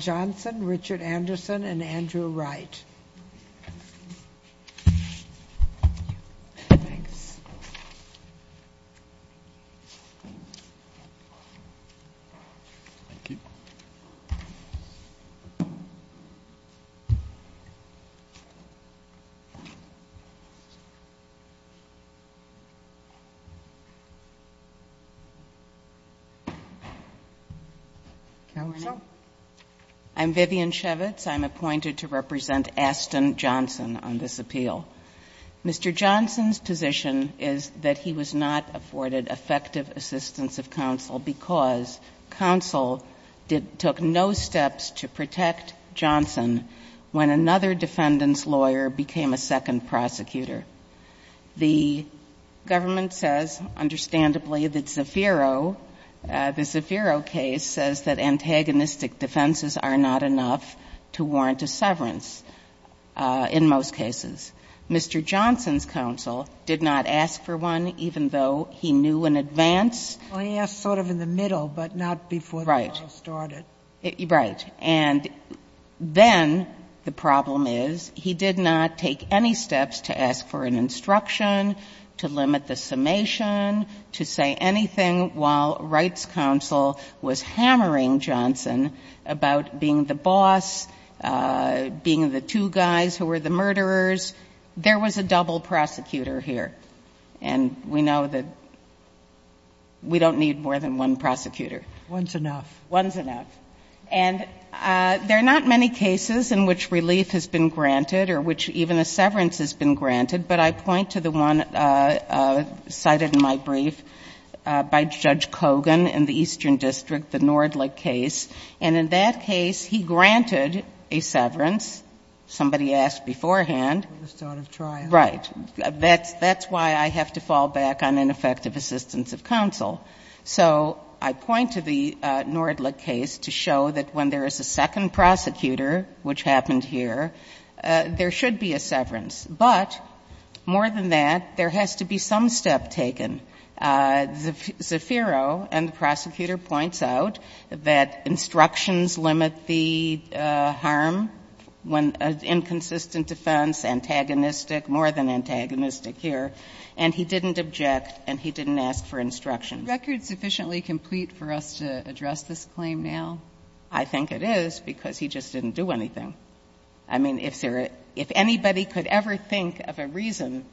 Johnson, Richard Anderson, and Andrew Wright. I'm Vivian Shevitz. I'm appointed to represent Aston Johnson on this appeal. Mr. Johnson's position is that he was not afforded effective assistance of counsel because counsel took no steps to protect Johnson when another defendant's lawyer became a second prosecutor. The government says, understandably, that Zafiro, the Zafiro case says that antagonistic defenses are not enough to warrant a severance in most cases. Mr. Johnson's counsel did not ask for one even though he knew in advance. I asked sort of in the middle, but not before the trial started. Right. Right. And then the problem is he did not take any steps to ask for an instruction, to limit the summation, to say anything while Wright's counsel was hammering Johnson about being the boss, being the two guys who were the murderers. There was a double prosecutor here. And we know that we don't need more than one prosecutor. One's enough. One's enough. And there are not many cases in which relief has been granted or which even a severance has been granted. But I point to the one cited in my brief by Judge Kogan in the Eastern District, the Nordlich case. And in that case, he granted a severance. Somebody asked beforehand. At the start of trial. Right. That's why I have to fall back on ineffective assistance of counsel. So I point to the Nordlich case to show that when there is a second prosecutor, which happened here, there should be a severance. But more than that, there has to be some step taken. Zaffiro and the prosecutor points out that instructions limit the harm when an inconsistent defense, antagonistic, more than antagonistic here, and he didn't object and he didn't ask for instructions. Is the record sufficiently complete for us to address this claim now? I think it is because he just didn't do anything. I mean, if anybody could ever think of a reason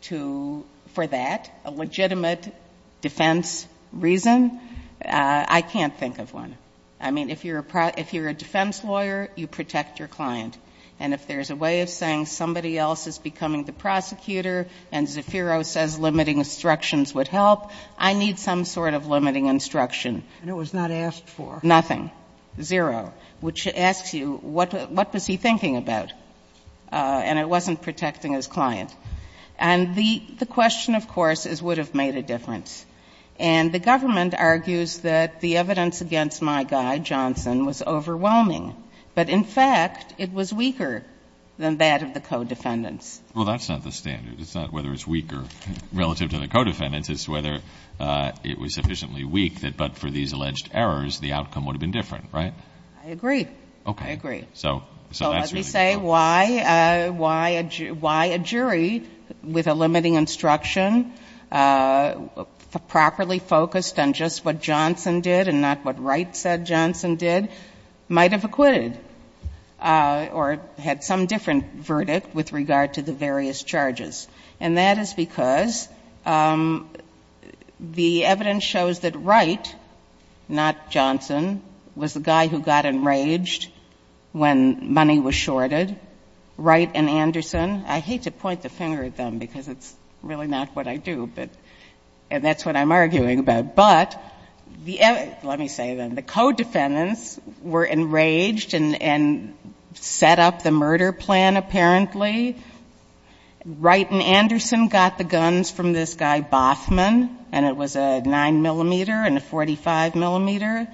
for that, a legitimate defense reason, I can't think of one. I mean, if you're a defense lawyer, you protect your client. And if there's a way of saying somebody else is becoming the prosecutor and Zaffiro says limiting instructions would help, I need some sort of limiting instruction. And it was not asked for. Nothing. Zero. Which asks you, what was he thinking about? And it wasn't protecting his client. And the question, of course, is would it have made a difference? And the government argues that the evidence against my guy, Johnson, was overwhelming. But, in fact, it was weaker than that of the co-defendants. Well, that's not the standard. It's not whether it's weaker relative to the co-defendants. It's whether it was sufficiently weak that but for these alleged errors, the outcome would have been different, right? I agree. Okay. I agree. So that's really good. So let me say why a jury with a limiting instruction properly focused on just what Johnson did and not what Wright said Johnson did might have acquitted or had some different verdict with regard to the various charges. And that is because the evidence shows that Wright, not Johnson, was the guy who got enraged when money was shorted. Wright and Anderson, I hate to point the finger at them because it's really not what I do, and that's what I'm arguing about. But let me say then, the co-defendants were enraged and set up the murder plan, apparently. Wright and Anderson got the guns from this guy, Bothman, and it was a 9 millimeter and a 45 millimeter.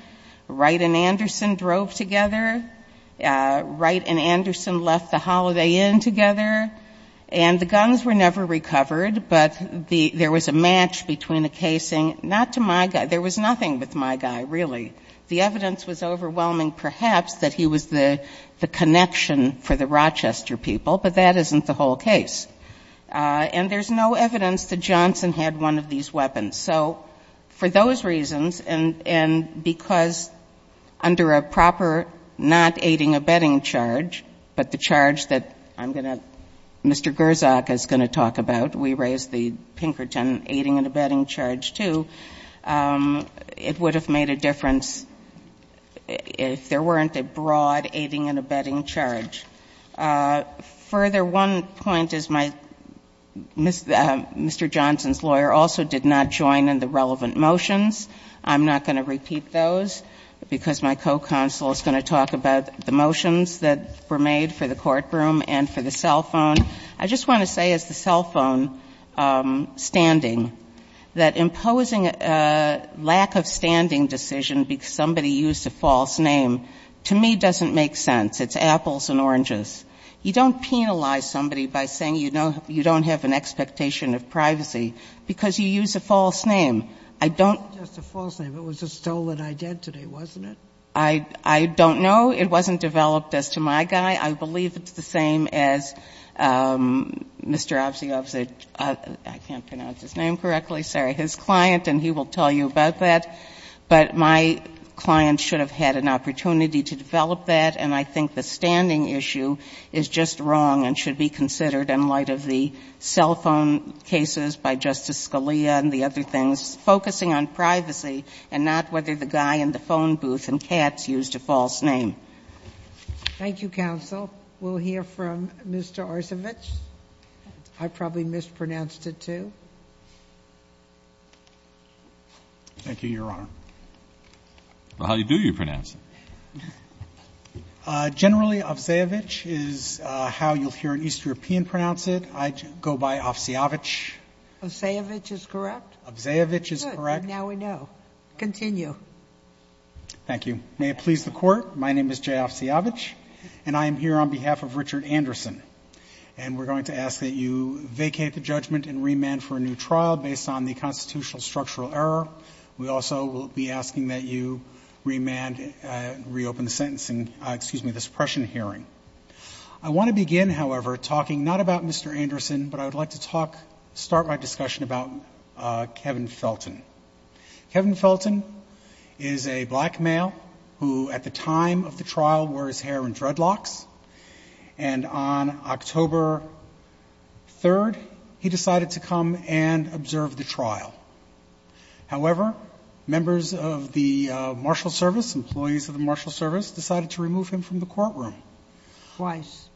Wright and Anderson drove together. Wright and Anderson left the Holiday Inn together. And the guns were never recovered, but there was a match between a casing, not to my guy. There was nothing with my guy, really. The evidence was overwhelming, perhaps, that he was the connection for the Rochester people, but that isn't the whole case. And there's no evidence that Johnson had one of these weapons. So for those reasons, and because under a proper not aiding and abetting charge, but the charge that I'm going to, Mr. Gersak is going to talk about, we raised the Pinkerton aiding and abetting charge too, it would have made a difference if there weren't a broad aiding and abetting charge. Further, one point is my, Mr. Johnson's lawyer also did not join in the relevant motions. I'm not going to repeat those because my co-counsel is going to talk about the motions that were made for the courtroom and for the cell phone. I just want to say, as the cell phone standing, that imposing a lack of standing decision because somebody used a false name, to me, doesn't make sense. It's apples and oranges. You don't penalize somebody by saying you don't have an expectation of privacy, because you use a false name. Sotomayor, it wasn't just a false name. It was a stolen identity, wasn't it? I don't know. It wasn't developed as to my guy. I believe it's the same as Mr. Obziehowski. I can't pronounce his name correctly. Sorry. His client, and he will tell you about that. But my client should have had an opportunity to develop that, and I think the standing issue is just wrong and should be considered in light of the cell phone cases by Justice Scalia and the other things, focusing on privacy and not whether the guy in the phone booth and Katz used a false name. Thank you, counsel. We'll hear from Mr. Arcevich. I probably mispronounced it, too. Thank you, Your Honor. Well, how do you pronounce it? Generally, Obziehowicz is how you'll hear an East European pronounce it. I go by Obziehowicz. Obziehowicz is correct? Obziehowicz is correct. Good. Now we know. Continue. Thank you. May it please the Court, my name is Jay Obziehowicz, and I am here on behalf of Richard Anderson. And we're going to ask that you vacate the judgment and remand for a new trial based on the constitutional structural error. We also will be asking that you remand, reopen the sentencing, excuse me, the suppression hearing. I want to begin, however, talking not about Mr. Anderson, but I would like to talk, start my discussion about Kevin Felton. Kevin Felton is a black male who, at the time of the trial, wore his hair in dreadlocks. And on October 3rd, he decided to come and observe the trial. However, members of the marshal service, employees of the marshal service, decided to remove him from the courtroom. Twice.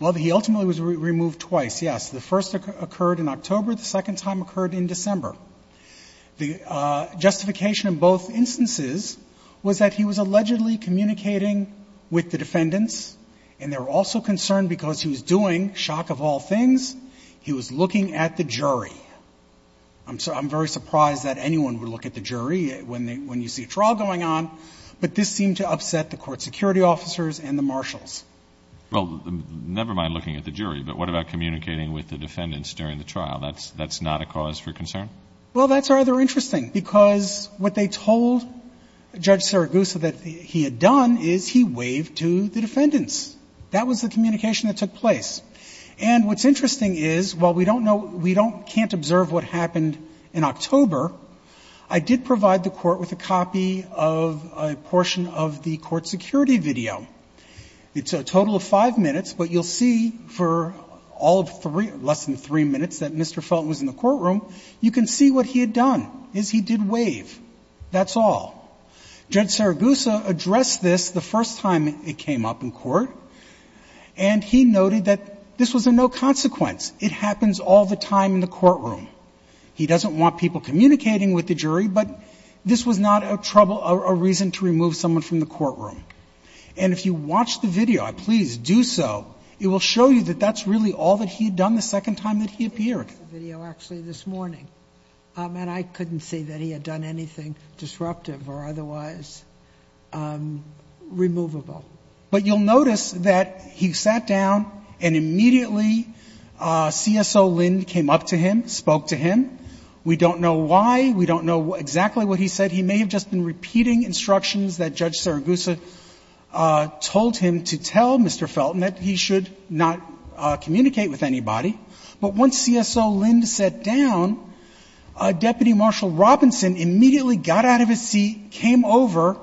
Well, he ultimately was removed twice, yes. The first occurred in October, the second time occurred in December. The justification in both instances was that he was allegedly communicating with the defendants, and they were also concerned because he was doing, shock of all things, he was looking at the jury. I'm very surprised that anyone would look at the jury when you see a trial going on, but this seemed to upset the court security officers and the marshals. Well, never mind looking at the jury, but what about communicating with the defendants during the trial? That's not a cause for concern? Well, that's rather interesting, because what they told Judge Saragusa that he had done is he waved to the defendants. That was the communication that took place. And what's interesting is, while we don't know, we can't observe what happened in October, I did provide the court with a copy of a portion of the court security video. So a total of five minutes, but you'll see for all of three, less than three minutes that Mr. Felton was in the courtroom, you can see what he had done, is he did wave, that's all. Judge Saragusa addressed this the first time it came up in court, and he noted that this was a no consequence. It happens all the time in the courtroom. He doesn't want people communicating with the jury, but this was not a trouble, a reason to remove someone from the courtroom. And if you watch the video, please do so, it will show you that that's really all that he had done the second time that he appeared. It's the video actually this morning, and I couldn't see that he had done anything disruptive or otherwise removable. But you'll notice that he sat down and immediately CSO Lind came up to him, spoke to him. We don't know why. We don't know exactly what he said. He may have just been repeating instructions that Judge Saragusa told him to tell Mr. Felton that he should not communicate with anybody. But once CSO Lind sat down, Deputy Marshal Robinson immediately got out of his seat, came over,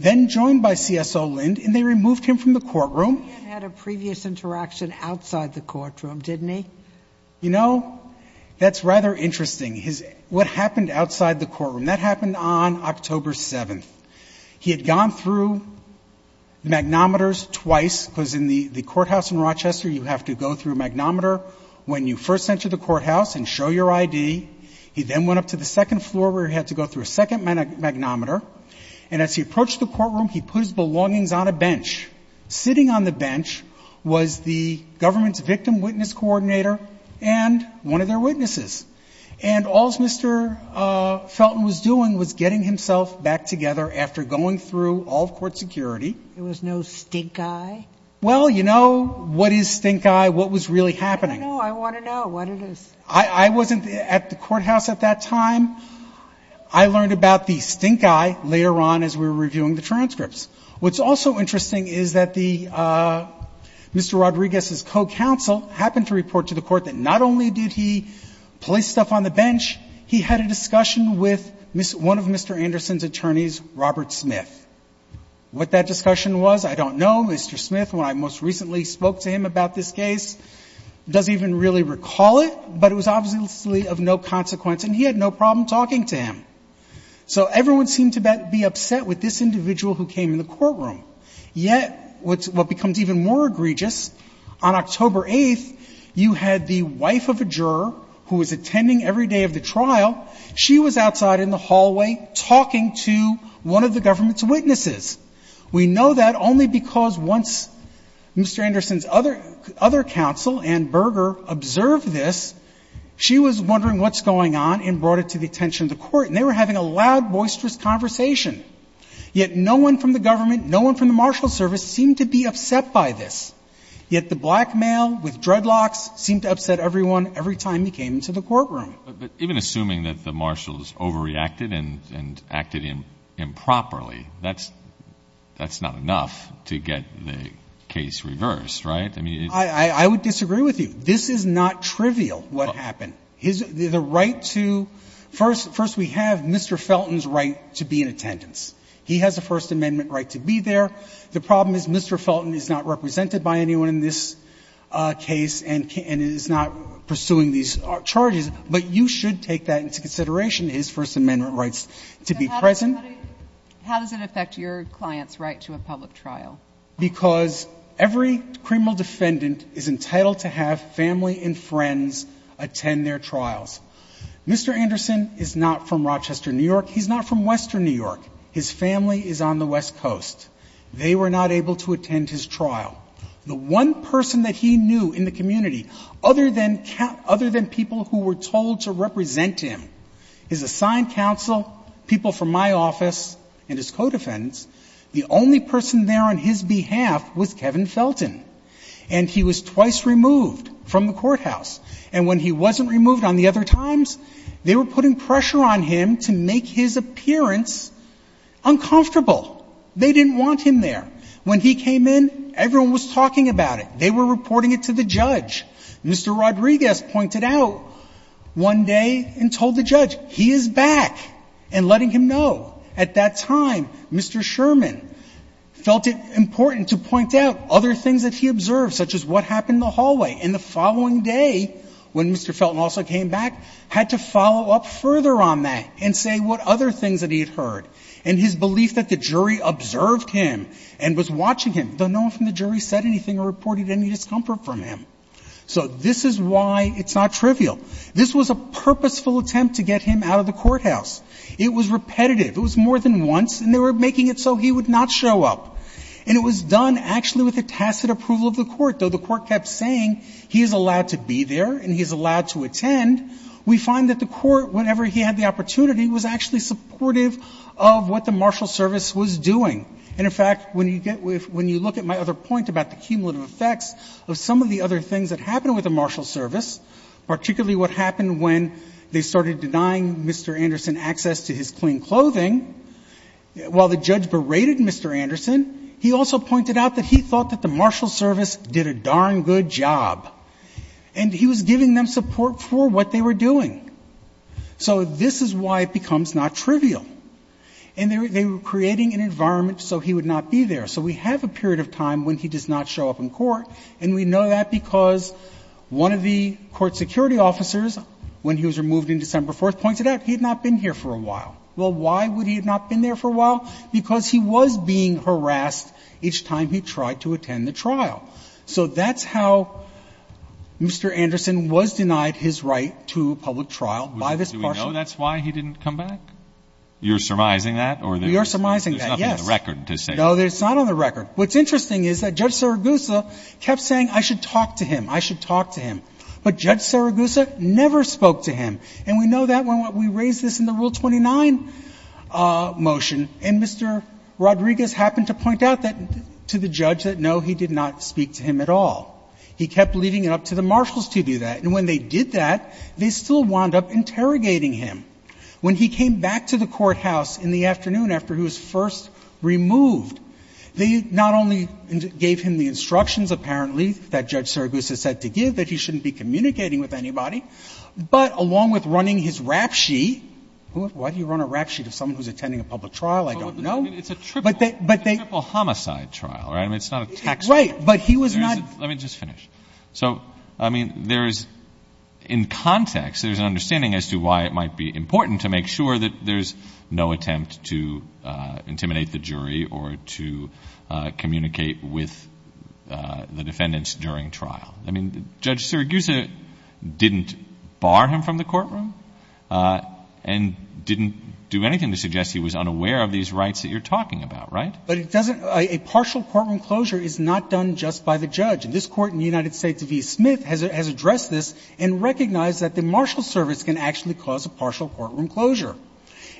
then joined by CSO Lind, and they removed him from the courtroom. He had had a previous interaction outside the courtroom, didn't he? You know, that's rather interesting, what happened outside the courtroom. That happened on October 7th. He had gone through the magnometers twice, because in the courthouse in Rochester, you have to go through a magnometer when you first enter the courthouse and show your ID. He then went up to the second floor where he had to go through a second magnometer. And as he approached the courtroom, he put his belongings on a bench. Sitting on the bench was the government's victim witness coordinator and one of their witnesses. And all Mr. Felton was doing was getting himself back together after going through all of court security. It was no stink eye? Well, you know, what is stink eye? What was really happening? I don't know. I want to know what it is. I wasn't at the courthouse at that time. I learned about the stink eye later on as we were reviewing the transcripts. What's also interesting is that the Mr. Rodriguez's co-counsel happened to report to the court that not only did he place stuff on the bench, he had a discussion with one of Mr. Anderson's attorneys, Robert Smith. What that discussion was, I don't know. Mr. Smith, when I most recently spoke to him about this case, doesn't even really recall it. But it was obviously of no consequence. And he had no problem talking to him. So everyone seemed to be upset with this individual who came in the courtroom. Yet what becomes even more egregious, on October 8th, you had the wife of a juror who was attending every day of the trial. She was outside in the hallway talking to one of the government's witnesses. We know that only because once Mr. Anderson's other counsel, Ann Berger, observed this, she was wondering what's going on and brought it to the attention of the court. And they were having a loud, boisterous conversation. Yet no one from the government, no one from the marshal's service seemed to be upset by this. Yet the black male with dreadlocks seemed to upset everyone every time he came into the courtroom. But even assuming that the marshals overreacted and acted improperly, that's not enough to get the case reversed, right? I would disagree with you. This is not trivial, what happened. First, we have Mr. Felton's right to be in attendance. He has a First Amendment right to be there. The problem is Mr. Felton is not represented by anyone in this case and is not pursuing these charges. But you should take that into consideration, his First Amendment rights to be present. How does it affect your client's right to a public trial? Because every criminal defendant is entitled to have family and friends attend their trials. Mr. Anderson is not from Rochester, New York. He's not from western New York. His family is on the west coast. They were not able to attend his trial. The one person that he knew in the community, other than people who were told to represent him, his assigned counsel, people from my office, and his co-defendants, the only person there on his behalf was Kevin Felton. And he was twice removed from the courthouse. And when he wasn't removed on the other times, they were putting pressure on him to make his appearance uncomfortable. They didn't want him there. When he came in, everyone was talking about it. They were reporting it to the judge. Mr. Rodriguez pointed out one day and told the judge, he is back, and letting him know. At that time, Mr. Sherman felt it important to point out other things that he observed, such as what happened in the hallway. And the following day, when Mr. Felton also came back, had to follow up further on that and say what other things that he had heard. And his belief that the jury observed him and was watching him, though no one from the jury said anything or reported any discomfort from him. So this is why it's not trivial. This was a purposeful attempt to get him out of the courthouse. It was repetitive. It was more than once, and they were making it so he would not show up. And it was done, actually, with the tacit approval of the court, though the court kept saying he is allowed to be there and he is allowed to attend. We find that the court, whenever he had the opportunity, was actually supportive of what the marshal service was doing. And, in fact, when you look at my other point about the cumulative effects of some of the other things that happened with the marshal service, particularly what happened when they started denying Mr. Anderson access to his clean clothing while the judge berated Mr. Anderson, he also pointed out that he thought that the marshal service did a darn good job. And he was giving them support for what they were doing. So this is why it becomes not trivial. And they were creating an environment so he would not be there. So we have a period of time when he does not show up in court, and we know that because one of the court security officers, when he was removed in December 4th, pointed out he had not been here for a while. Well, why would he have not been there for a while? Because he was being harassed each time he tried to attend the trial. So that's how Mr. Anderson was denied his right to public trial by this marshal. Do we know that's why he didn't come back? You're surmising that? We are surmising that, yes. There's nothing on the record to say that. No, it's not on the record. What's interesting is that Judge Saragusa kept saying, I should talk to him, I should talk to him. But Judge Saragusa never spoke to him. And we know that when we raised this in the Rule 29 motion. And Mr. Rodriguez happened to point out that to the judge that, no, he did not speak to him at all. He kept leaving it up to the marshals to do that. And when they did that, they still wound up interrogating him. When he came back to the courthouse in the afternoon after he was first removed, they not only gave him the instructions apparently that Judge Saragusa said to give that he shouldn't be communicating with anybody, but along with running his rap sheet — why do you run a rap sheet if someone who's attending a public trial? I don't know. But they — It's a triple homicide trial, right? I mean, it's not a tax fraud. Right. But he was not — Let me just finish. So, I mean, there's — in context, there's an understanding as to why it might be important to make sure that there's no attempt to intimidate the jury or to communicate with the defendants during trial. I mean, Judge Saragusa didn't bar him from the courtroom and didn't do anything to suggest he was unaware of these rights that you're talking about, right? But it doesn't — a partial courtroom closure is not done just by the judge. And this Court in the United States v. Smith has addressed this and recognized that the marshal service can actually cause a partial courtroom closure.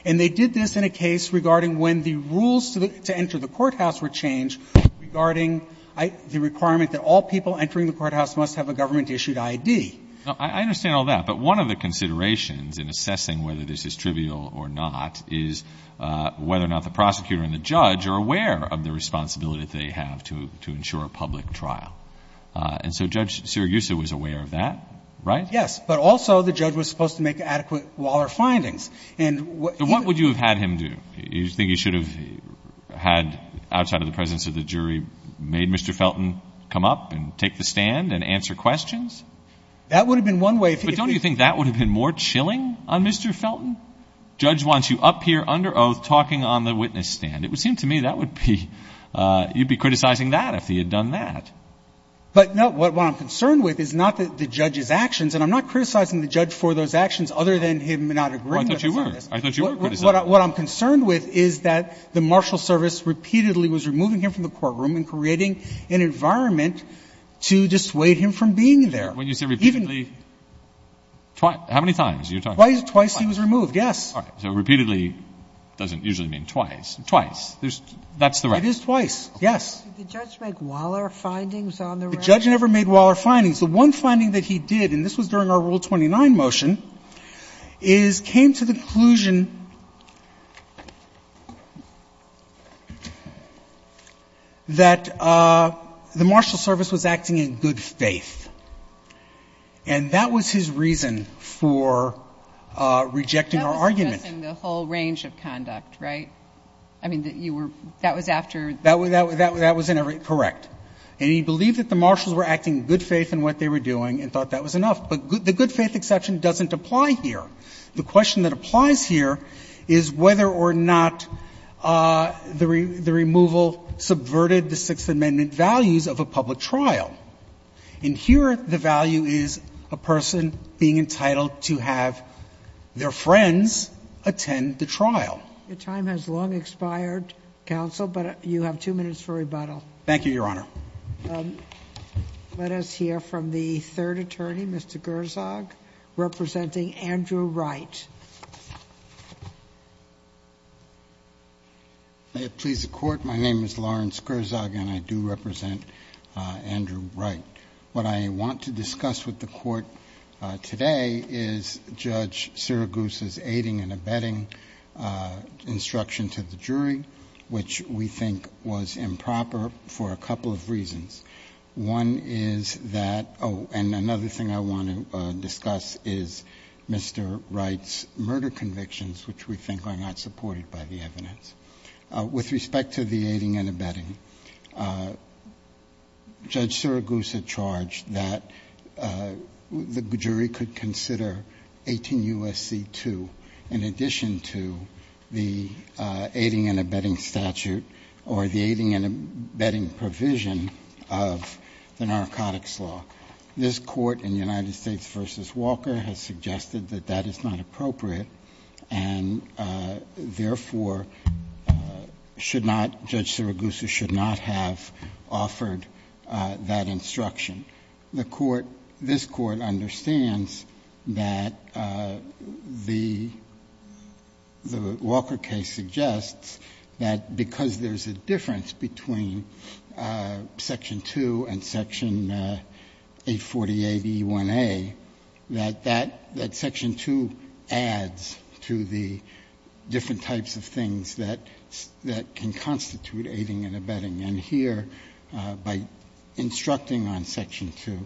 And they did this in a case regarding when the rules to enter the courthouse were changed regarding the requirement that all people entering the courthouse must have a government-issued I.D. I understand all that. But one of the considerations in assessing whether this is trivial or not is whether or not the prosecutor and the judge are aware of the responsibility they have to ensure a public trial. And so Judge Saragusa was aware of that, right? Yes. But also the judge was supposed to make adequate Waller findings. And what — But what would you have had him do? Do you think he should have had, outside of the presence of the jury, made Mr. Felton come up and take the stand and answer questions? That would have been one way — But don't you think that would have been more chilling on Mr. Felton? Judge wants you up here under oath talking on the witness stand. It would seem to me that would be — you'd be criticizing that if he had done that. But no. What I'm concerned with is not the judge's actions. And I'm not criticizing the judge for those actions other than him not agreeing with the service. I thought you were. I thought you were criticizing him. What I'm concerned with is that the marshal service repeatedly was removing him from the courtroom and creating an environment to dissuade him from being there. When you say repeatedly, twice — how many times? Twice he was removed, yes. All right. So repeatedly doesn't usually mean twice. Twice. That's the right — It is twice, yes. Did the judge make Waller findings on the — The judge never made Waller findings. The one finding that he did, and this was during our Rule 29 motion, is came to the conclusion that the marshal service was acting in good faith. And that was his reason for rejecting our argument. That was addressing the whole range of conduct, right? I mean, you were — that was after — That was correct. And he believed that the marshals were acting in good faith in what they were doing and thought that was enough. But the good faith exception doesn't apply here. The question that applies here is whether or not the removal subverted the Sixth Amendment values of a public trial. And here the value is a person being entitled to have their friends attend the trial. Your time has long expired, counsel, but you have two minutes for rebuttal. Thank you, Your Honor. Let us hear from the third attorney, Mr. Gerzog, representing Andrew Wright. May it please the Court, my name is Lawrence Gerzog, and I do represent Andrew Wright. What I want to discuss with the Court today is Judge Sirigusa's aiding and abetting instruction to the jury, which we think was improper for a couple of reasons. One is that — oh, and another thing I want to discuss is Mr. Wright's murder convictions, which we think are not supported by the evidence. With respect to the aiding and abetting, Judge Sirigusa charged that the jury could consider 18 U.S.C. 2 in addition to the aiding and abetting statute or the aiding and abetting provision of the narcotics law. This Court in United States v. Walker has suggested that that is not appropriate and, therefore, should not — Judge Sirigusa should not have offered that instruction. The Court — this Court understands that the Walker case suggests that because there's a difference between section 2 and section 848E1A, that that — that section 2 adds to the different types of things that can constitute aiding and abetting. And here, by instructing on section 2,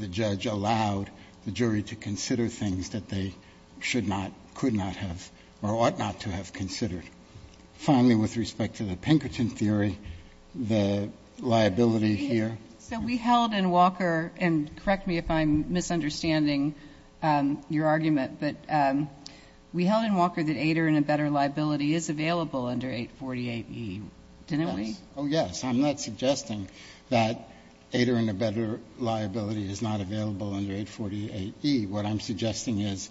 the judge allowed the jury to consider things that they should not, could not have, or ought not to have considered. Finally, with respect to the Pinkerton theory, the liability here — your argument — but we held in Walker that aider and abetter liability is available under 848E, didn't we? Oh, yes. I'm not suggesting that aider and abetter liability is not available under 848E. What I'm suggesting is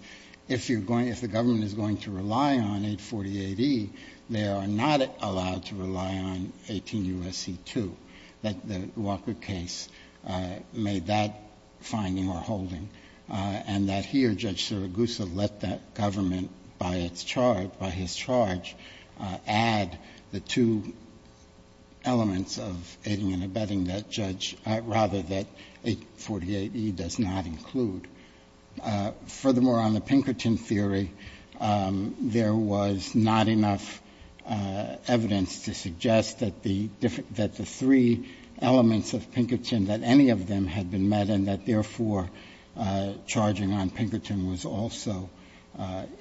if you're going — if the government is going to rely on 848E, they are not allowed to rely on 18 U.S.C. 2. That the Walker case made that finding or holding. And that here, Judge Sirigusa let that government, by its charge, by his charge, add the two elements of aiding and abetting that judge — rather, that 848E does not include. Furthermore, on the Pinkerton theory, there was not enough evidence to suggest that the three elements of Pinkerton, that any of them had been met, and that, therefore, charging on Pinkerton was also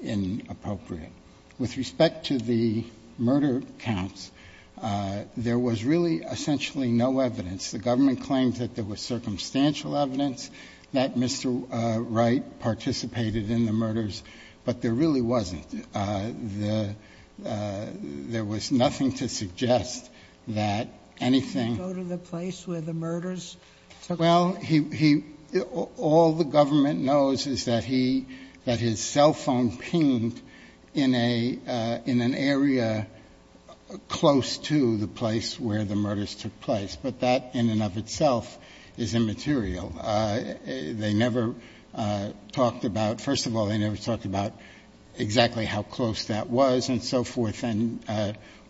inappropriate. With respect to the murder counts, there was really essentially no evidence. The government claimed that there was circumstantial evidence that Mr. Wright participated in the murders, but there really wasn't. The — there was nothing to suggest that anything — Sotomayor, go to the place where the murders took place? Well, he — all the government knows is that he — that his cell phone pinged in a — in an area close to the place where the murders took place. But that, in and of itself, is immaterial. They never talked about — first of all, they never talked about exactly how close that was and so forth, and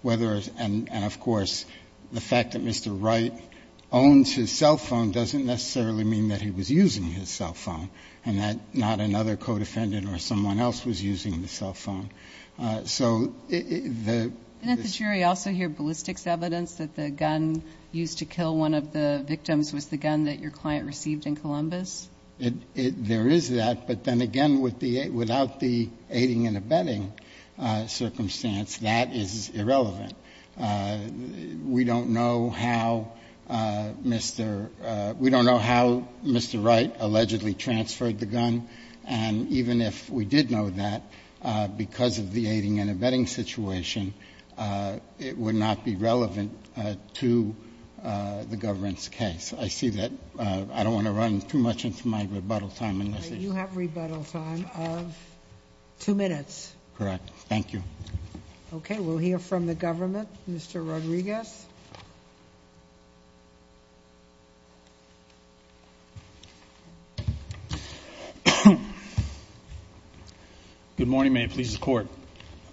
whether — and, of course, the fact that Mr. Wright owns his cell phone doesn't necessarily mean that he was using his cell phone and that not another co-defendant or someone else was using the cell phone. So the — Didn't the jury also hear ballistics evidence that the gun used to kill one of the defendants was received in Columbus? There is that, but then again, without the aiding and abetting circumstance, that is irrelevant. We don't know how Mr. — we don't know how Mr. Wright allegedly transferred the gun, and even if we did know that, because of the aiding and abetting situation, it would not be relevant to the government's case. I see that. I don't want to run too much into my rebuttal time unless it's — You have rebuttal time of two minutes. Correct. Thank you. Okay. We'll hear from the government. Mr. Rodriguez. Good morning. May it please the Court.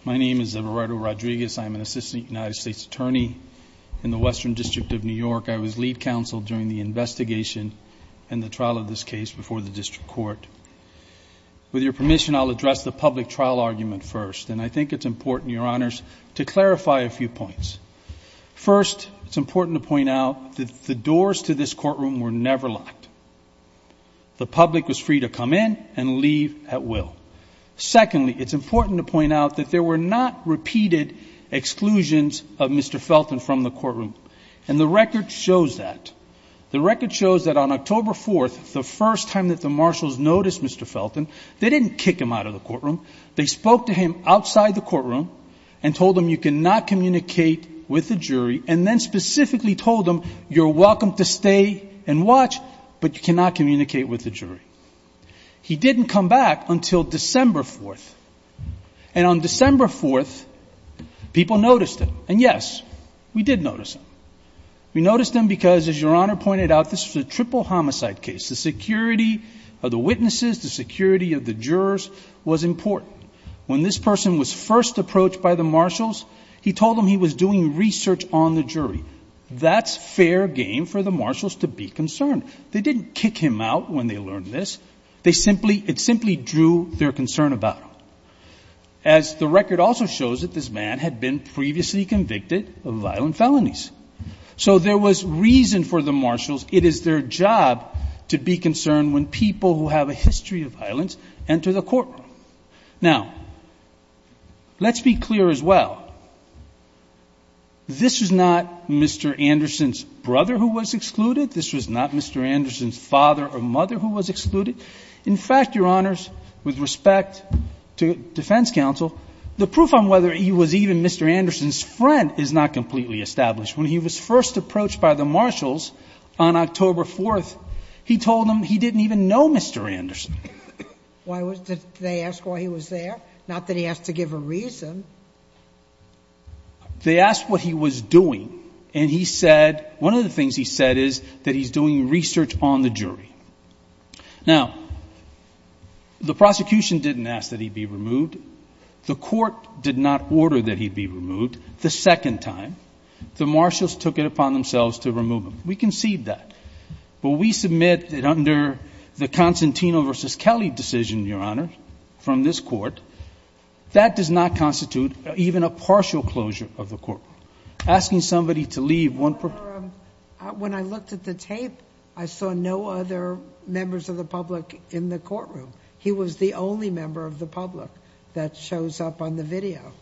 My name is Everardo Rodriguez. I'm an assistant United States attorney in the Western District of New York. I was lead counsel during the investigation and the trial of this case before the district court. With your permission, I'll address the public trial argument first, and I think it's important, Your Honors, to clarify a few points. First, it's important to point out that the doors to this courtroom were never locked. The public was free to come in and leave at will. Secondly, it's important to point out that there were not repeated exclusions of Mr. Felton from the courtroom. And the record shows that. The record shows that on October 4th, the first time that the marshals noticed Mr. Felton, they didn't kick him out of the courtroom. They spoke to him outside the courtroom and told him you cannot communicate with the jury, and then specifically told him you're welcome to stay and watch, but you cannot communicate with the jury. He didn't come back until December 4th. And on December 4th, people noticed him. And, yes, we did notice him. We noticed him because, as Your Honor pointed out, this was a triple homicide case. The security of the witnesses, the security of the jurors was important. When this person was first approached by the marshals, he told them he was doing research on the jury. That's fair game for the marshals to be concerned. They didn't kick him out when they learned this. It simply drew their concern about him. As the record also shows that this man had been previously convicted of violent felonies. So there was reason for the marshals. It is their job to be concerned when people who have a history of violence enter the courtroom. Now, let's be clear as well. This is not Mr. Anderson's brother who was excluded. This was not Mr. Anderson's father or mother who was excluded. In fact, Your Honors, with respect to defense counsel, the proof on whether he was even Mr. Anderson's friend is not completely established. When he was first approached by the marshals on October 4th, he told them he didn't even know Mr. Anderson. Why was they asked why he was there? Not that he asked to give a reason. They asked what he was doing. And he said, one of the things he said is that he's doing research on the jury. Now, the prosecution didn't ask that he be removed. The court did not order that he be removed the second time. The marshals took it upon themselves to remove him. We concede that. But we submit that under the Constantino v. Kelly decision, Your Honor, from this court, that does not constitute even a partial closure of the courtroom. Asking somebody to leave one person. When I looked at the tape, I saw no other members of the public in the courtroom. He was the only member of the public that shows up on the video.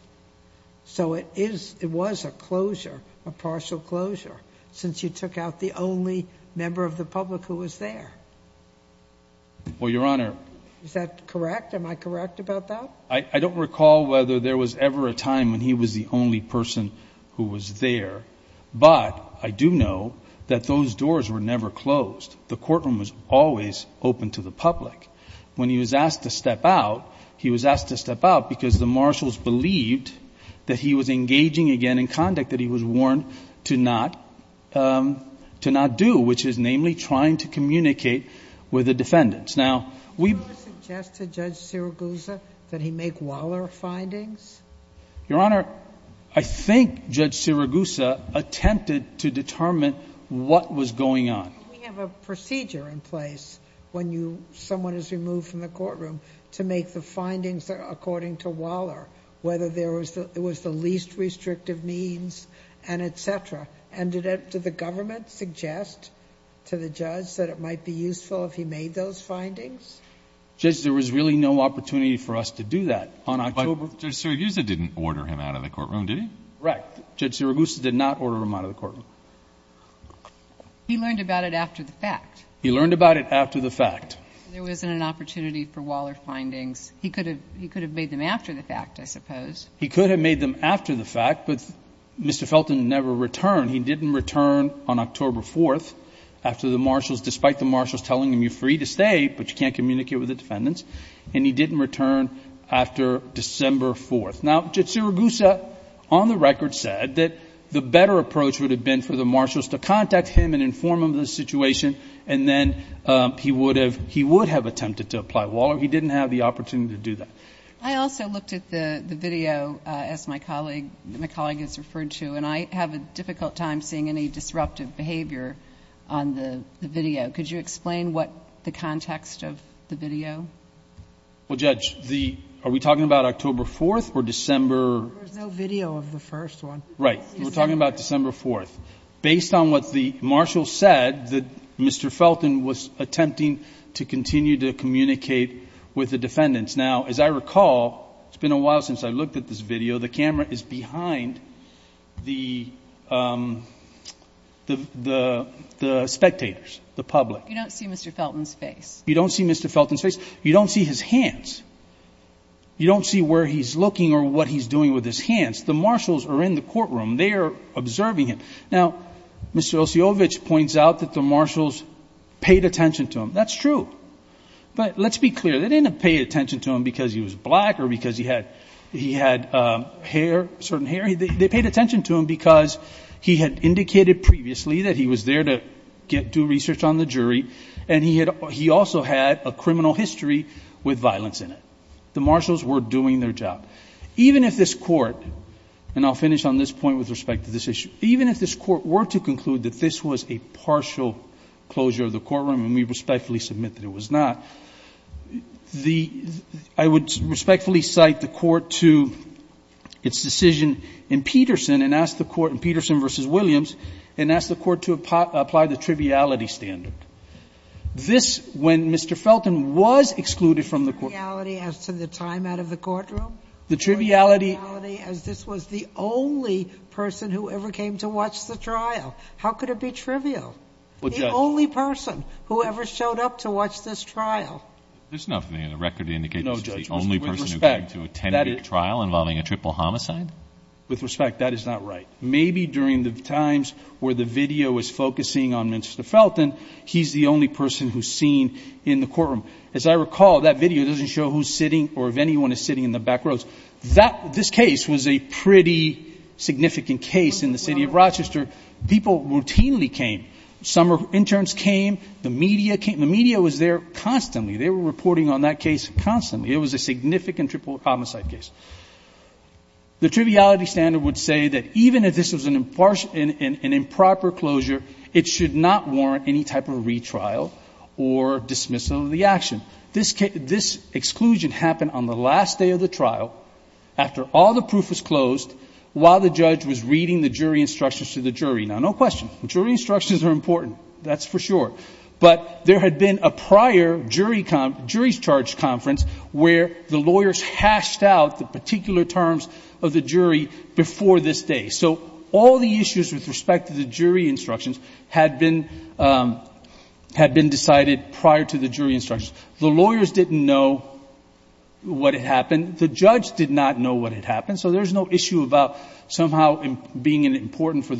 So it was a closure, a partial closure, since you took out the only member of the public who was there. Well, Your Honor... Is that correct? Am I correct about that? I don't recall whether there was ever a time when he was the only person who was there, but I do know that those doors were never closed. The courtroom was always open to the public. When he was asked to step out, he was asked to step out because the marshals believed that he was engaging again in conduct that he was warned to not do, which is namely trying to communicate with the defendants. Now, we... Did you ever suggest to Judge Siriguza that he make Waller findings? Your Honor, I think Judge Siriguza attempted to determine what was going on. We have a procedure in place when someone is removed from the courtroom to make the findings according to Waller, whether there was the least restrictive means and et cetera. And did the government suggest to the judge that it might be useful if he made those findings? Judge, there was really no opportunity for us to do that on October... Well, Judge Siriguza didn't order him out of the courtroom, did he? Correct. Judge Siriguza did not order him out of the courtroom. He learned about it after the fact. He learned about it after the fact. There wasn't an opportunity for Waller findings. He could have made them after the fact, I suppose. He could have made them after the fact, but Mr. Felton never returned. He didn't return on October 4th after the marshals, despite the marshals telling him, you're free to stay, but you can't communicate with the defendants. And he didn't return after December 4th. Now, Judge Siriguza, on the record, said that the better approach would have been for the marshals to contact him and inform him of the situation, and then he would have attempted to apply Waller. He didn't have the opportunity to do that. I also looked at the video, as my colleague has referred to, and I have a difficult time seeing any disruptive behavior on the video. Could you explain what the context of the video? Well, Judge, are we talking about October 4th or December? There's no video of the first one. Right. We're talking about December 4th. Based on what the marshals said, Mr. Felton was attempting to continue to communicate with the defendants. Now, as I recall, it's been a while since I looked at this video. The camera is behind the spectators, the public. You don't see Mr. Felton's face. You don't see Mr. Felton's face. You don't see his hands. You don't see where he's looking or what he's doing with his hands. The marshals are in the courtroom. They are observing him. Now, Mr. Osijovic points out that the marshals paid attention to him. That's true. But let's be clear. They didn't pay attention to him because he was black or because he had hair, certain hair. They paid attention to him because he had indicated previously that he was there to do research on the jury, and he also had a criminal history with violence in it. The marshals were doing their job. Even if this court, and I'll finish on this point with respect to this issue, even if this court were to conclude that this was a partial closure of the courtroom, and we respectfully submit that it was not, I would respectfully cite the court to its decision in Peterson and ask the court in Peterson v. Williams and ask the court to apply the triviality standard. This, when Mr. Felton was excluded from the courtroom. The triviality as to the time out of the courtroom? The triviality as this was the only person who ever came to watch the trial. How could it be trivial? The only person who ever showed up to watch this trial. There's nothing in the record to indicate this was the only person who came to attend a trial involving a triple homicide? With respect, that is not right. Maybe during the times where the video was focusing on Mr. Felton, he's the only person who's seen in the courtroom. As I recall, that video doesn't show who's sitting or if anyone is sitting in the back rows. This case was a pretty significant case in the city of Rochester. People routinely came. Some interns came. The media came. The media was there constantly. They were reporting on that case constantly. It was a significant triple homicide case. The triviality standard would say that even if this was an improper closure, it should not warrant any type of retrial or dismissal of the action. This exclusion happened on the last day of the trial, after all the proof was closed, while the judge was reading the jury instructions to the jury. Now, no question. The jury instructions are important. That's for sure. But there had been a prior jury's charge conference where the lawyers hashed out the particular terms of the jury before this day. So all the issues with respect to the jury instructions had been decided prior to the jury instructions. The lawyers didn't know what had happened. The judge did not know what had happened. So there's no issue about somehow being important for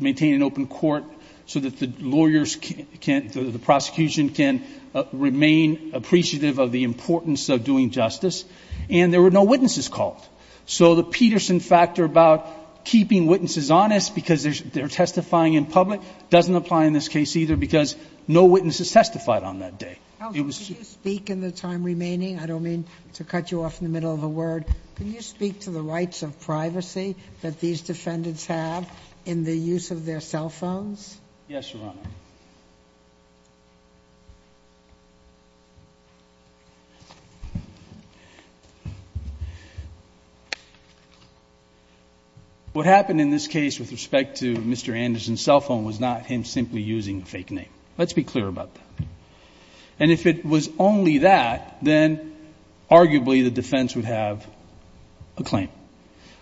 maintaining an open court so that the lawyers can't, the prosecution can remain appreciative of the importance of doing justice. And there were no witnesses called. So the Peterson factor about keeping witnesses honest because they're testifying in public doesn't apply in this case either because no witnesses testified on that day. It was to speak in the time remaining. I don't mean to cut you off in the middle of a word. Can you speak to the rights of privacy that these defendants have in the use of their cell phones? Yes, Your Honor. What happened in this case with respect to Mr. Anderson's cell phone was not him simply using a fake name. Let's be clear about that. And if it was only that, then arguably the defense would have a claim.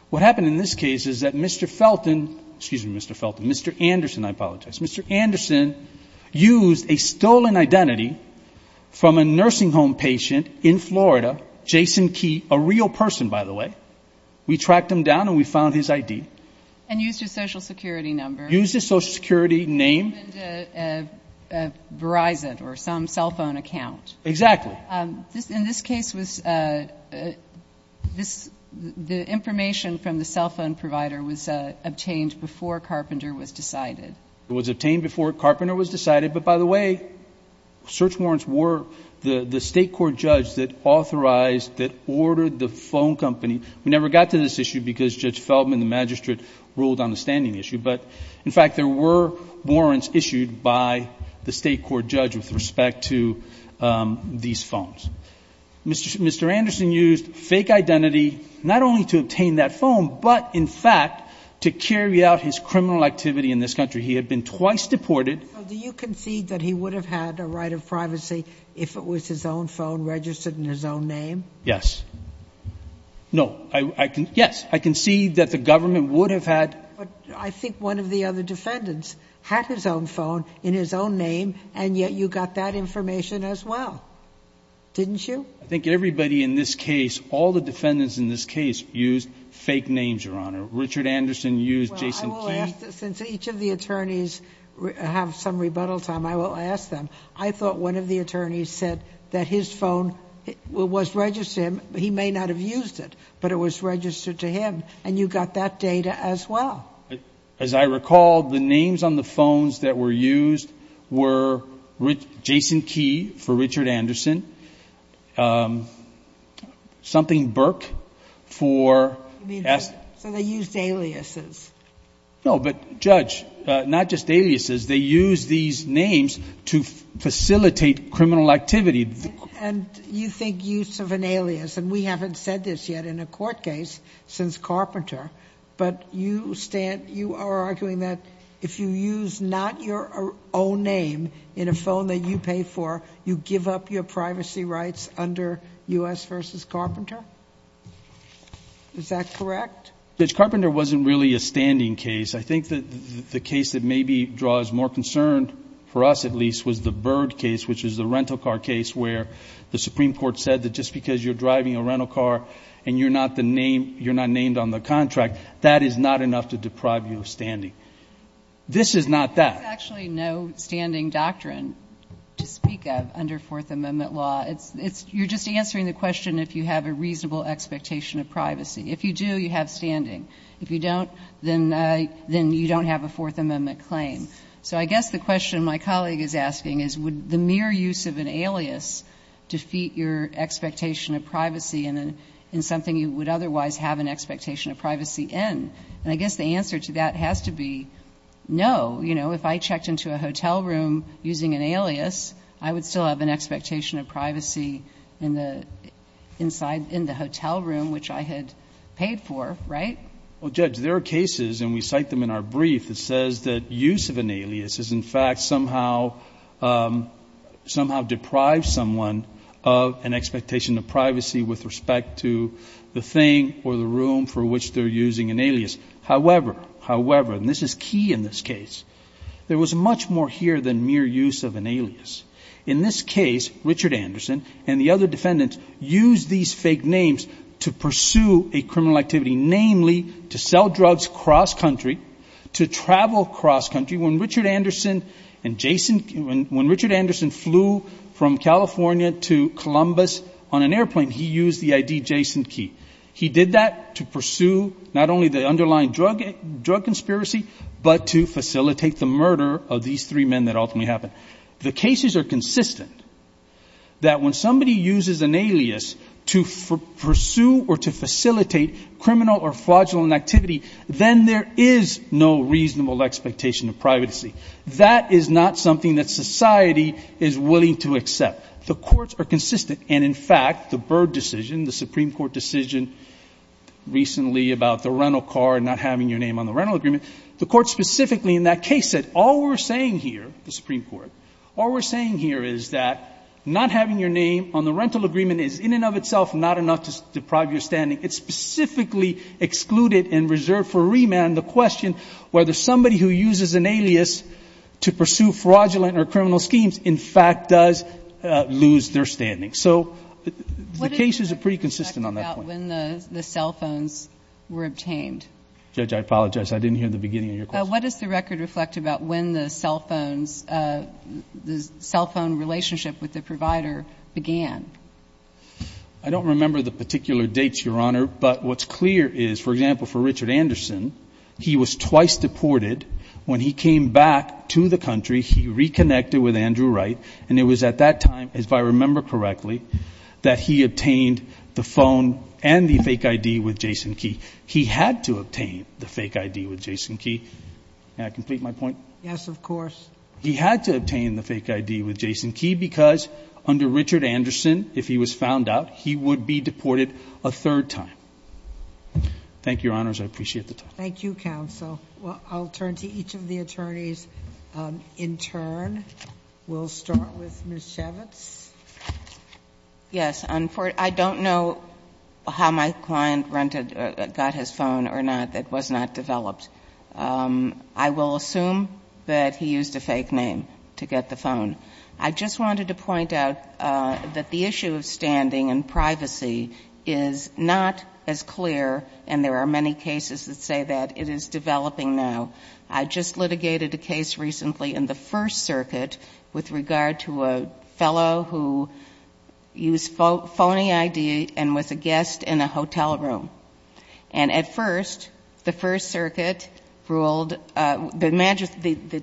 What happened in this case is that Mr. Felton, excuse me, Mr. Felton, Mr. Anderson, I apologize, Mr. Anderson used a stolen identity from a nursing home patient in Florida, Jason Key, a real person, by the way. We tracked him down and we found his ID. And used his Social Security number. Used his Social Security name. And he opened a Verizon or some cell phone account. Exactly. In this case, the information from the cell phone provider was obtained before Carpenter was decided. It was obtained before Carpenter was decided. But, by the way, search warrants were the state court judge that authorized, that ordered the phone company. We never got to this issue because Judge Feldman, the magistrate, ruled on the standing issue. But, in fact, there were warrants issued by the state court judge with respect to these phones. Mr. Anderson used fake identity not only to obtain that phone, but, in fact, to carry out his criminal activity in this country. He had been twice deported. So do you concede that he would have had a right of privacy if it was his own phone registered in his own name? Yes. No. Yes. I concede that the government would have had. But I think one of the other defendants had his own phone in his own name, and yet you got that information as well, didn't you? I think everybody in this case, all the defendants in this case, used fake names, Your Honor. Richard Anderson used Jason Key. Since each of the attorneys have some rebuttal time, I will ask them. I thought one of the attorneys said that his phone was registered to him. He may not have used it, but it was registered to him. And you got that data as well. As I recall, the names on the phones that were used were Jason Key for Richard Anderson, something Burke for... So they used aliases. No, but, Judge, not just aliases. They used these names to facilitate criminal activity. And you think use of an alias, and we haven't said this yet in a court case since Carpenter, but you stand, you are arguing that if you use not your own name in a phone that you pay for, you give up your privacy rights under U.S. v. Carpenter? Is that correct? Judge, Carpenter wasn't really a standing case. I think the case that maybe draws more concern, for us at least, was the Byrd case, which is the rental car case where the Supreme Court said that just because you're driving a rental car and you're not named on the contract, that is not enough to deprive you of standing. This is not that. There's actually no standing doctrine to speak of under Fourth Amendment law. You're just answering the question if you have a reasonable expectation of privacy. If you do, you have standing. If you don't, then you don't have a Fourth Amendment claim. So I guess the question my colleague is asking is would the mere use of an alias defeat your expectation of privacy in something you would otherwise have an expectation of privacy in? And I guess the answer to that has to be no. You know, if I checked into a hotel room using an alias, I would still have an expectation of privacy in the hotel room, which I had paid for, right? Well, Judge, there are cases, and we cite them in our brief, that says that use of an alias is, in fact, somehow deprives someone of an expectation of privacy with respect to the thing or the room for which they're using an alias. However, and this is key in this case, there was much more here than mere use of an alias. In this case, Richard Anderson and the other defendants used these fake names to pursue a criminal activity, namely to sell drugs cross-country, to travel cross-country. When Richard Anderson and Jason, when Richard Anderson flew from California to Columbus on an airplane, he used the ID Jason key. He did that to pursue not only the underlying drug conspiracy, but to facilitate the murder of these three men that ultimately happened. The cases are consistent that when somebody uses an alias to pursue or to facilitate criminal or fraudulent activity, then there is no reasonable expectation of privacy. That is not something that society is willing to accept. The courts are consistent, and in fact, the Byrd decision, the Supreme Court decision recently about the rental car and not having your name on the rental agreement, the Court specifically in that case said all we're saying here, the Supreme Court, all we're saying here is that not having your name on the rental agreement is in and of itself not enough to deprive your standing. It specifically excluded and reserved for remand the question whether somebody who uses an alias to pursue fraudulent or criminal schemes in fact does lose their standing. So the cases are pretty consistent on that point. When the cell phones were obtained? Judge, I apologize. I didn't hear the beginning of your question. What does the record reflect about when the cell phones, the cell phone relationship with the provider began? I don't remember the particular dates, Your Honor, but what's clear is, for example, for Richard Anderson, he was twice deported. When he came back to the country, he reconnected with Andrew Wright, and it was at that time, if I remember correctly, that he obtained the phone and the fake I.D. with Jason Key. He had to obtain the fake I.D. with Jason Key. May I complete my point? Yes, of course. He had to obtain the fake I.D. with Jason Key because under Richard Anderson, if he was found out, he would be deported a third time. Thank you, Your Honors. I appreciate the time. Thank you, counsel. I'll turn to each of the attorneys. In turn, we'll start with Ms. Chavitz. Yes. I don't know how my client rented or got his phone or not that was not developed. I will assume that he used a fake name to get the phone. I just wanted to point out that the issue of standing and privacy is not as clear, and there are many cases that say that. It is developing now. I just litigated a case recently in the First Circuit with regard to a fellow who used phony I.D. and was a guest in a hotel room. And at first, the First Circuit ruled... The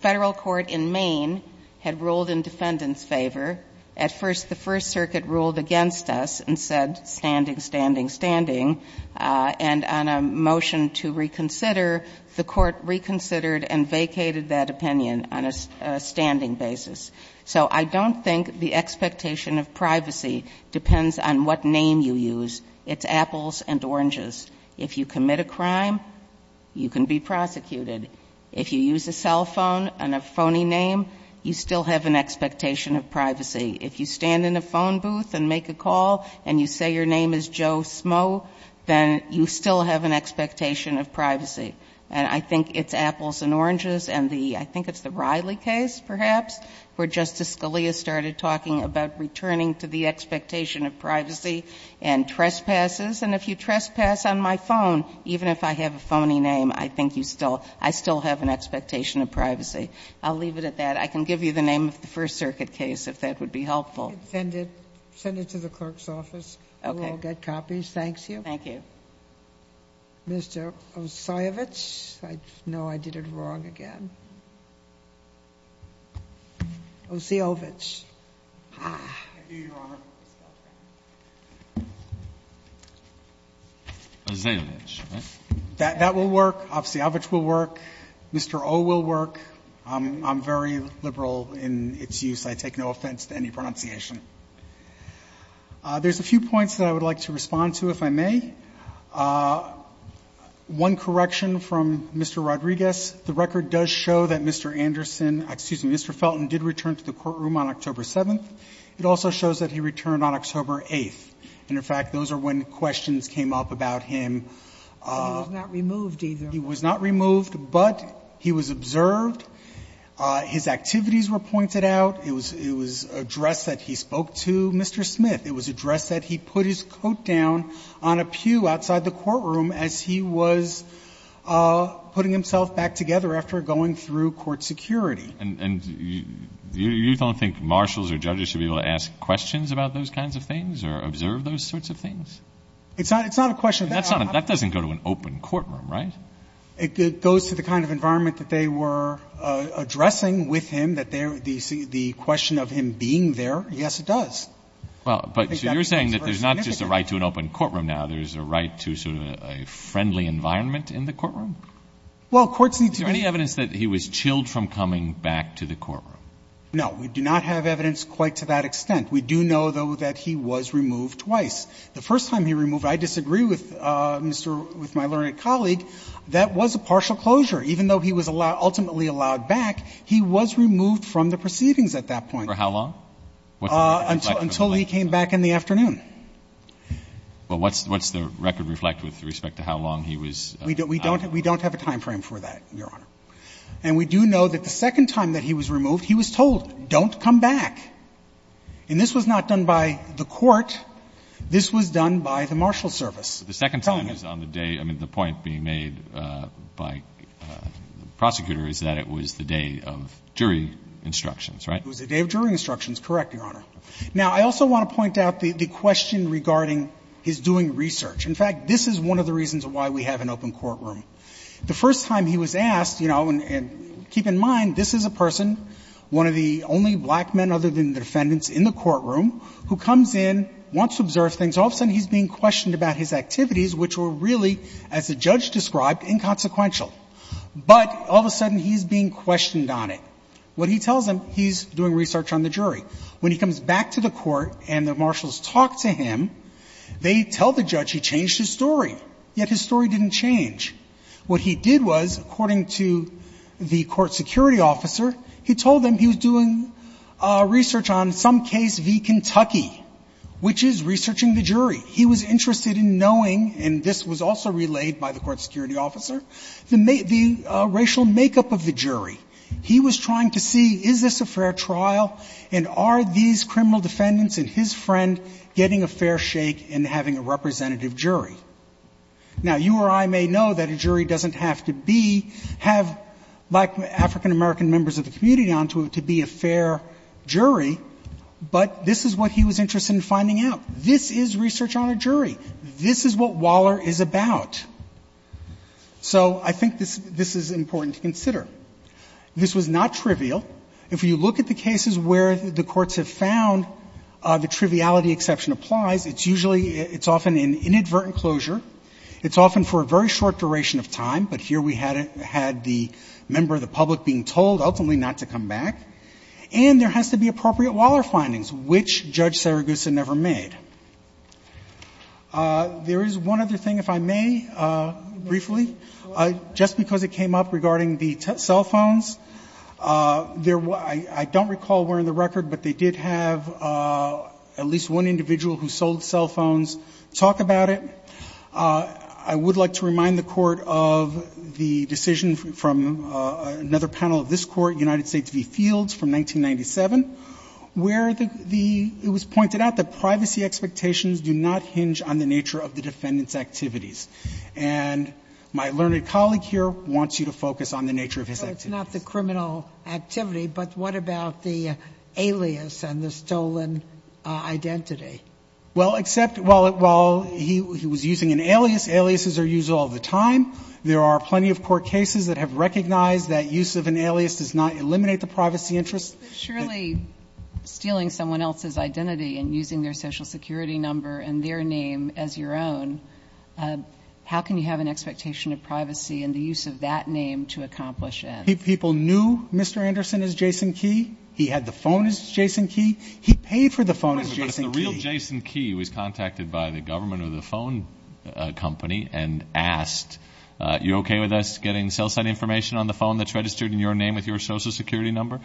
Federal Court in Maine had ruled in defendant's favor. At first, the First Circuit ruled against us and said, standing, standing, standing. And on a motion to reconsider, the Court reconsidered and vacated that opinion on a standing basis. So I don't think the expectation of privacy depends on what name you use. It's apples and oranges. If you commit a crime, you can be prosecuted. If you use a cell phone and a phony name, you still have an expectation of privacy. If you stand in a phone booth and make a call and you say your name is Joe Smough, then you still have an expectation of privacy. And I think it's apples and oranges and the — I think it's the Riley case, perhaps, where Justice Scalia started talking about returning to the expectation of privacy and trespasses. And if you trespass on my phone, even if I have a phony name, I think you still — I still have an expectation of privacy. I'll leave it at that. I can give you the name of the First Circuit case, if that would be helpful. Sotomayor. Send it. Send it to the clerk's office. Okay. We'll all get copies. Thank you. Thank you. Mr. Osiyovitch? I know I did it wrong again. Osiyovitch. I do, Your Honor. Osiyovitch, right? That will work. Osiyovitch will work. Mr. O will work. I'm very liberal in its use. I take no offense to any pronunciation. There's a few points that I would like to respond to, if I may. One correction from Mr. Rodriguez. The record does show that Mr. Anderson — excuse me, Mr. Felton did return to the courtroom on October 7th. It also shows that he returned on October 8th. And, in fact, those are when questions came up about him. He was not removed, either. His activities were pointed out. It was addressed that he spoke to Mr. Smith. It was addressed that he put his coat down on a pew outside the courtroom as he was putting himself back together after going through court security. And you don't think marshals or judges should be able to ask questions about those kinds of things or observe those sorts of things? It's not a question of that. That doesn't go to an open courtroom, right? It goes to the kind of environment that they were addressing with him, that the question of him being there, yes, it does. But you're saying that there's not just a right to an open courtroom now. There's a right to sort of a friendly environment in the courtroom? Well, courts need to be — Is there any evidence that he was chilled from coming back to the courtroom? No. We do not have evidence quite to that extent. We do know, though, that he was removed twice. The first time he was removed, I disagree with Mr. — with my learned colleague. That was a partial closure. Even though he was ultimately allowed back, he was removed from the proceedings at that point. For how long? Until he came back in the afternoon. Well, what's the record reflect with respect to how long he was out? We don't have a timeframe for that, Your Honor. And we do know that the second time that he was removed, he was told, don't come back. And this was not done by the court. This was done by the marshal service, telling him. The second time is on the day — I mean, the point being made by the prosecutor is that it was the day of jury instructions, right? It was the day of jury instructions. Correct, Your Honor. Now, I also want to point out the question regarding his doing research. In fact, this is one of the reasons why we have an open courtroom. The first time he was asked, you know, and keep in mind this is a person, one of the only black men other than the defendants in the courtroom, who comes in, wants to observe things. All of a sudden, he's being questioned about his activities, which were really, as the judge described, inconsequential. But all of a sudden, he's being questioned on it. What he tells them, he's doing research on the jury. When he comes back to the court and the marshals talk to him, they tell the judge he changed his story, yet his story didn't change. What he did was, according to the court security officer, he told them he was doing research on some case v. Kentucky, which is researching the jury. He was interested in knowing, and this was also relayed by the court security officer, the racial makeup of the jury. He was trying to see, is this a fair trial, and are these criminal defendants and his friend getting a fair shake and having a representative jury? Now, you or I may know that a jury doesn't have to be, have African-American members of the community on to be a fair jury, but this is what he was interested in finding out. This is research on a jury. This is what Waller is about. So I think this is important to consider. This was not trivial. If you look at the cases where the courts have found the triviality exception applies, it's usually, it's often in inadvertent closure. It's often for a very short duration of time, but here we had the member of the public being told ultimately not to come back, and there has to be appropriate Waller findings, which Judge Saragusa never made. There is one other thing, if I may, briefly, just because it came up regarding the cell phones. I don't recall wearing the record, but they did have at least one individual who sold cell phones talk about it. I would like to remind the Court of the decision from another panel of this Court, United States v. Fields from 1997, where it was pointed out that privacy expectations do not hinge on the nature of the defendant's activities. And my learned colleague here wants you to focus on the nature of his activities. So it's not the criminal activity, but what about the alias and the stolen identity? Well, except while he was using an alias, aliases are used all the time. There are plenty of court cases that have recognized that use of an alias does not eliminate the privacy interest. But surely stealing someone else's identity and using their Social Security number and their name as your own, how can you have an expectation of privacy and the use of that name to accomplish it? People knew Mr. Anderson as Jason Key. He paid for the phone as Jason Key. But if the real Jason Key was contacted by the government or the phone company and asked, are you okay with us getting cell site information on the phone that's registered in your name with your Social Security number?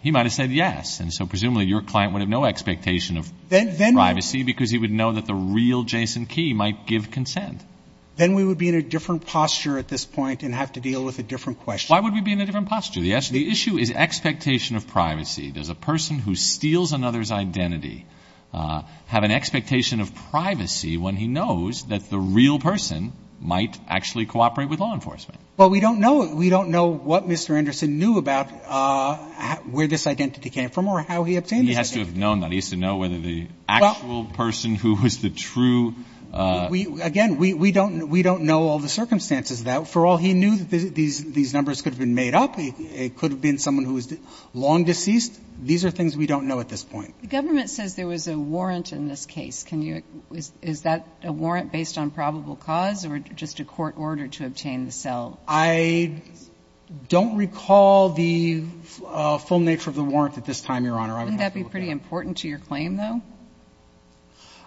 He might have said yes. And so presumably your client would have no expectation of privacy because he would know that the real Jason Key might give consent. Then we would be in a different posture at this point and have to deal with a different question. Why would we be in a different posture? The issue is expectation of privacy. Does a person who steals another's identity have an expectation of privacy when he knows that the real person might actually cooperate with law enforcement? Well, we don't know. We don't know what Mr. Anderson knew about where this identity came from or how he obtained it. He has to have known that. He has to know whether the actual person who was the true – Again, we don't know all the circumstances of that. For all he knew, these numbers could have been made up. It could have been someone who was long deceased. These are things we don't know at this point. The government says there was a warrant in this case. Can you – is that a warrant based on probable cause or just a court order to obtain the cell? I don't recall the full nature of the warrant at this time, Your Honor. I would have to look at it. Wouldn't that be pretty important to your claim, though?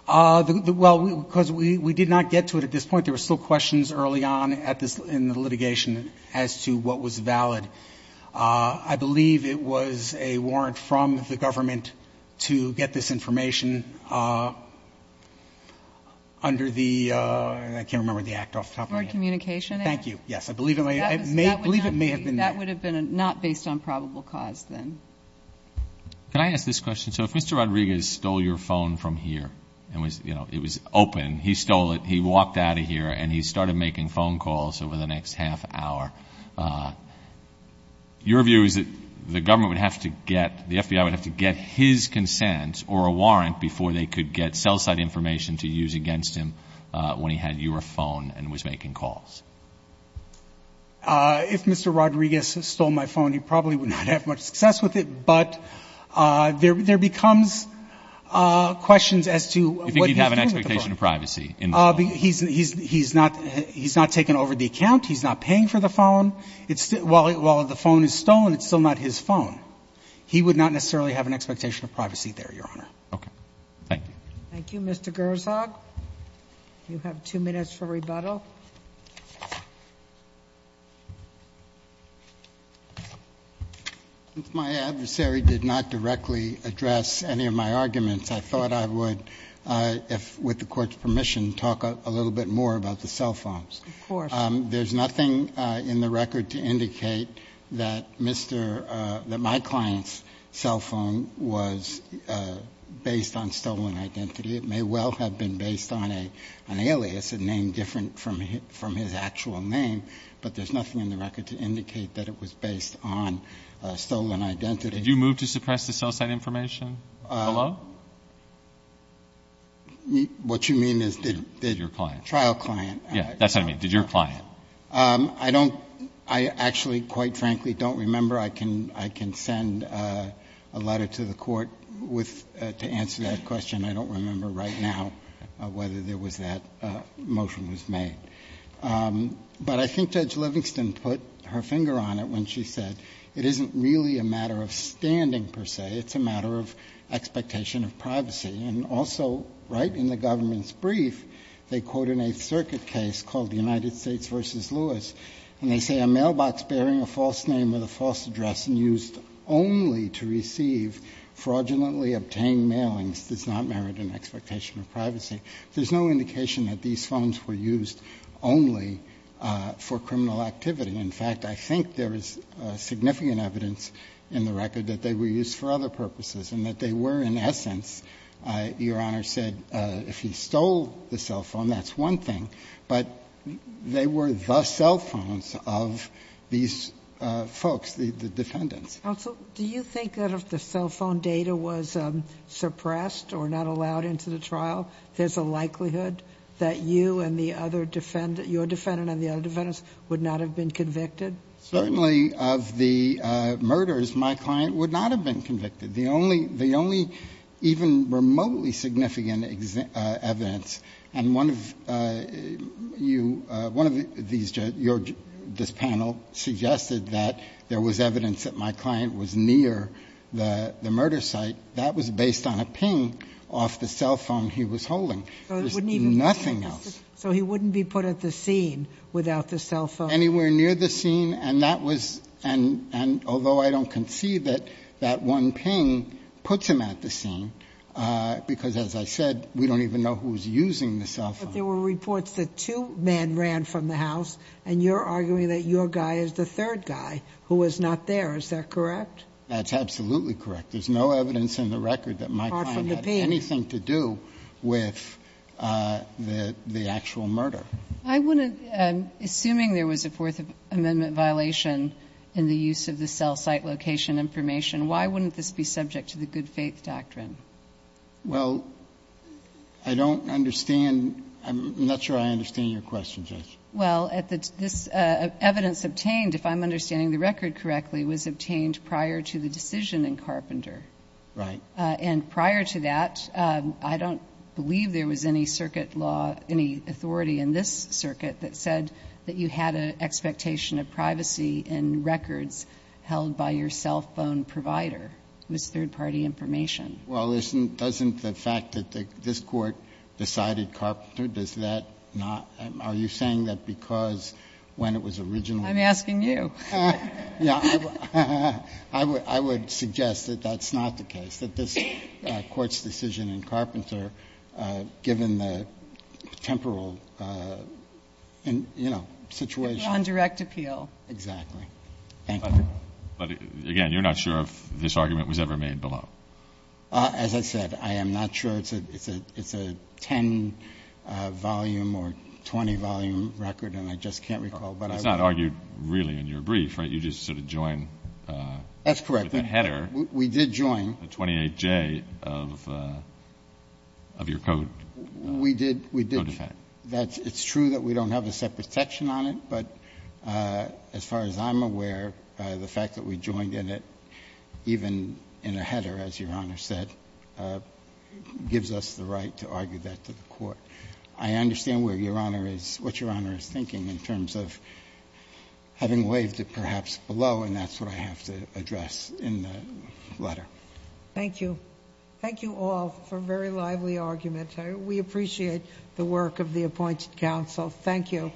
Well, because we did not get to it at this point. There were still questions early on at this – in the litigation as to what was valid. I believe it was a warrant from the government to get this information under the – I can't remember the act off the top of my head. Board communication act? Thank you. Yes. I believe it may have been that. That would have been not based on probable cause then. Can I ask this question? So if Mr. Rodriguez stole your phone from here and it was open, he stole it, he walked out of here, and he started making phone calls over the next half hour, your view is that the government would have to get – the FBI would have to get his consent or a warrant before they could get cell site information to use against him when he had your phone and was making calls? If Mr. Rodriguez stole my phone, he probably would not have much success with it, but there becomes questions as to what he was doing with the phone. He's not taking over the account. He's not paying for the phone. While the phone is stolen, it's still not his phone. He would not necessarily have an expectation of privacy there, Your Honor. Okay. Thank you. Thank you. Mr. Gershog, you have two minutes for rebuttal. My adversary did not directly address any of my arguments. I thought I would, with the Court's permission, talk a little bit more about the cell phones. Of course. There's nothing in the record to indicate that my client's cell phone was based on stolen identity. It may well have been based on an alias, a name different from his actual name, but there's nothing in the record to indicate that it was based on stolen identity. Did you move to suppress the cell site information? Hello? What you mean is did trial client? Yes, that's what I mean. Did your client? I actually, quite frankly, don't remember. I can send a letter to the Court to answer that question. I don't remember right now whether there was that motion was made. But I think Judge Livingston put her finger on it when she said, it isn't really a matter of standing, per se. It's a matter of expectation of privacy. And also, right in the government's brief, they quote in a circuit case called the United States v. Lewis, and they say a mailbox bearing a false name with a false address and used only to receive fraudulently obtained mailings does not merit an expectation of privacy. There's no indication that these phones were used only for criminal activity. In fact, I think there is significant evidence in the record that they were used for other purposes and that they were, in essence, Your Honor said, if he stole the cell phone, that's one thing. But they were the cell phones of these folks, the defendants. Counsel, do you think that if the cell phone data was suppressed or not allowed into the trial, there's a likelihood that you and the other defendant, that your defendant and the other defendants would not have been convicted? Certainly of the murders, my client would not have been convicted. The only even remotely significant evidence, and one of you, one of these judges, this panel suggested that there was evidence that my client was near the murder site. That was based on a ping off the cell phone he was holding. There's nothing else. So he wouldn't be put at the scene without the cell phone? Anywhere near the scene, and that was, and although I don't concede that that one ping puts him at the scene, because as I said, we don't even know who was using the cell phone. But there were reports that two men ran from the house, and you're arguing that your guy is the third guy who was not there. Is that correct? That's absolutely correct. I'm assuming there was a Fourth Amendment violation in the use of the cell site location information. Why wouldn't this be subject to the good faith doctrine? Well, I don't understand. I'm not sure I understand your question, Judge. Well, this evidence obtained, if I'm understanding the record correctly, was obtained prior to the decision in Carpenter. Right. And prior to that, I don't believe there was any circuit law, any authority in this circuit that said that you had an expectation of privacy in records held by your cell phone provider. It was third party information. Well, isn't the fact that this court decided Carpenter, does that not, are you saying that because when it was originally. I'm asking you. I would suggest that that's not the case, that this Court's decision in Carpenter, given the temporal, you know, situation. It was on direct appeal. Exactly. Thank you. Again, you're not sure if this argument was ever made below. As I said, I am not sure. It's a 10-volume or 20-volume record, and I just can't recall. It's not argued really in your brief, right? You just sort of joined. That's correct. With the header. We did join. The 28J of your code. We did. It's true that we don't have a separate section on it, but as far as I'm aware, the fact that we joined in it, even in a header, as Your Honor said, gives us the right to argue that to the Court. But I understand what Your Honor is thinking in terms of having waived it perhaps below, and that's what I have to address in the letter. Thank you. Thank you all for very lively arguments. We appreciate the work of the appointed counsel. Thank you.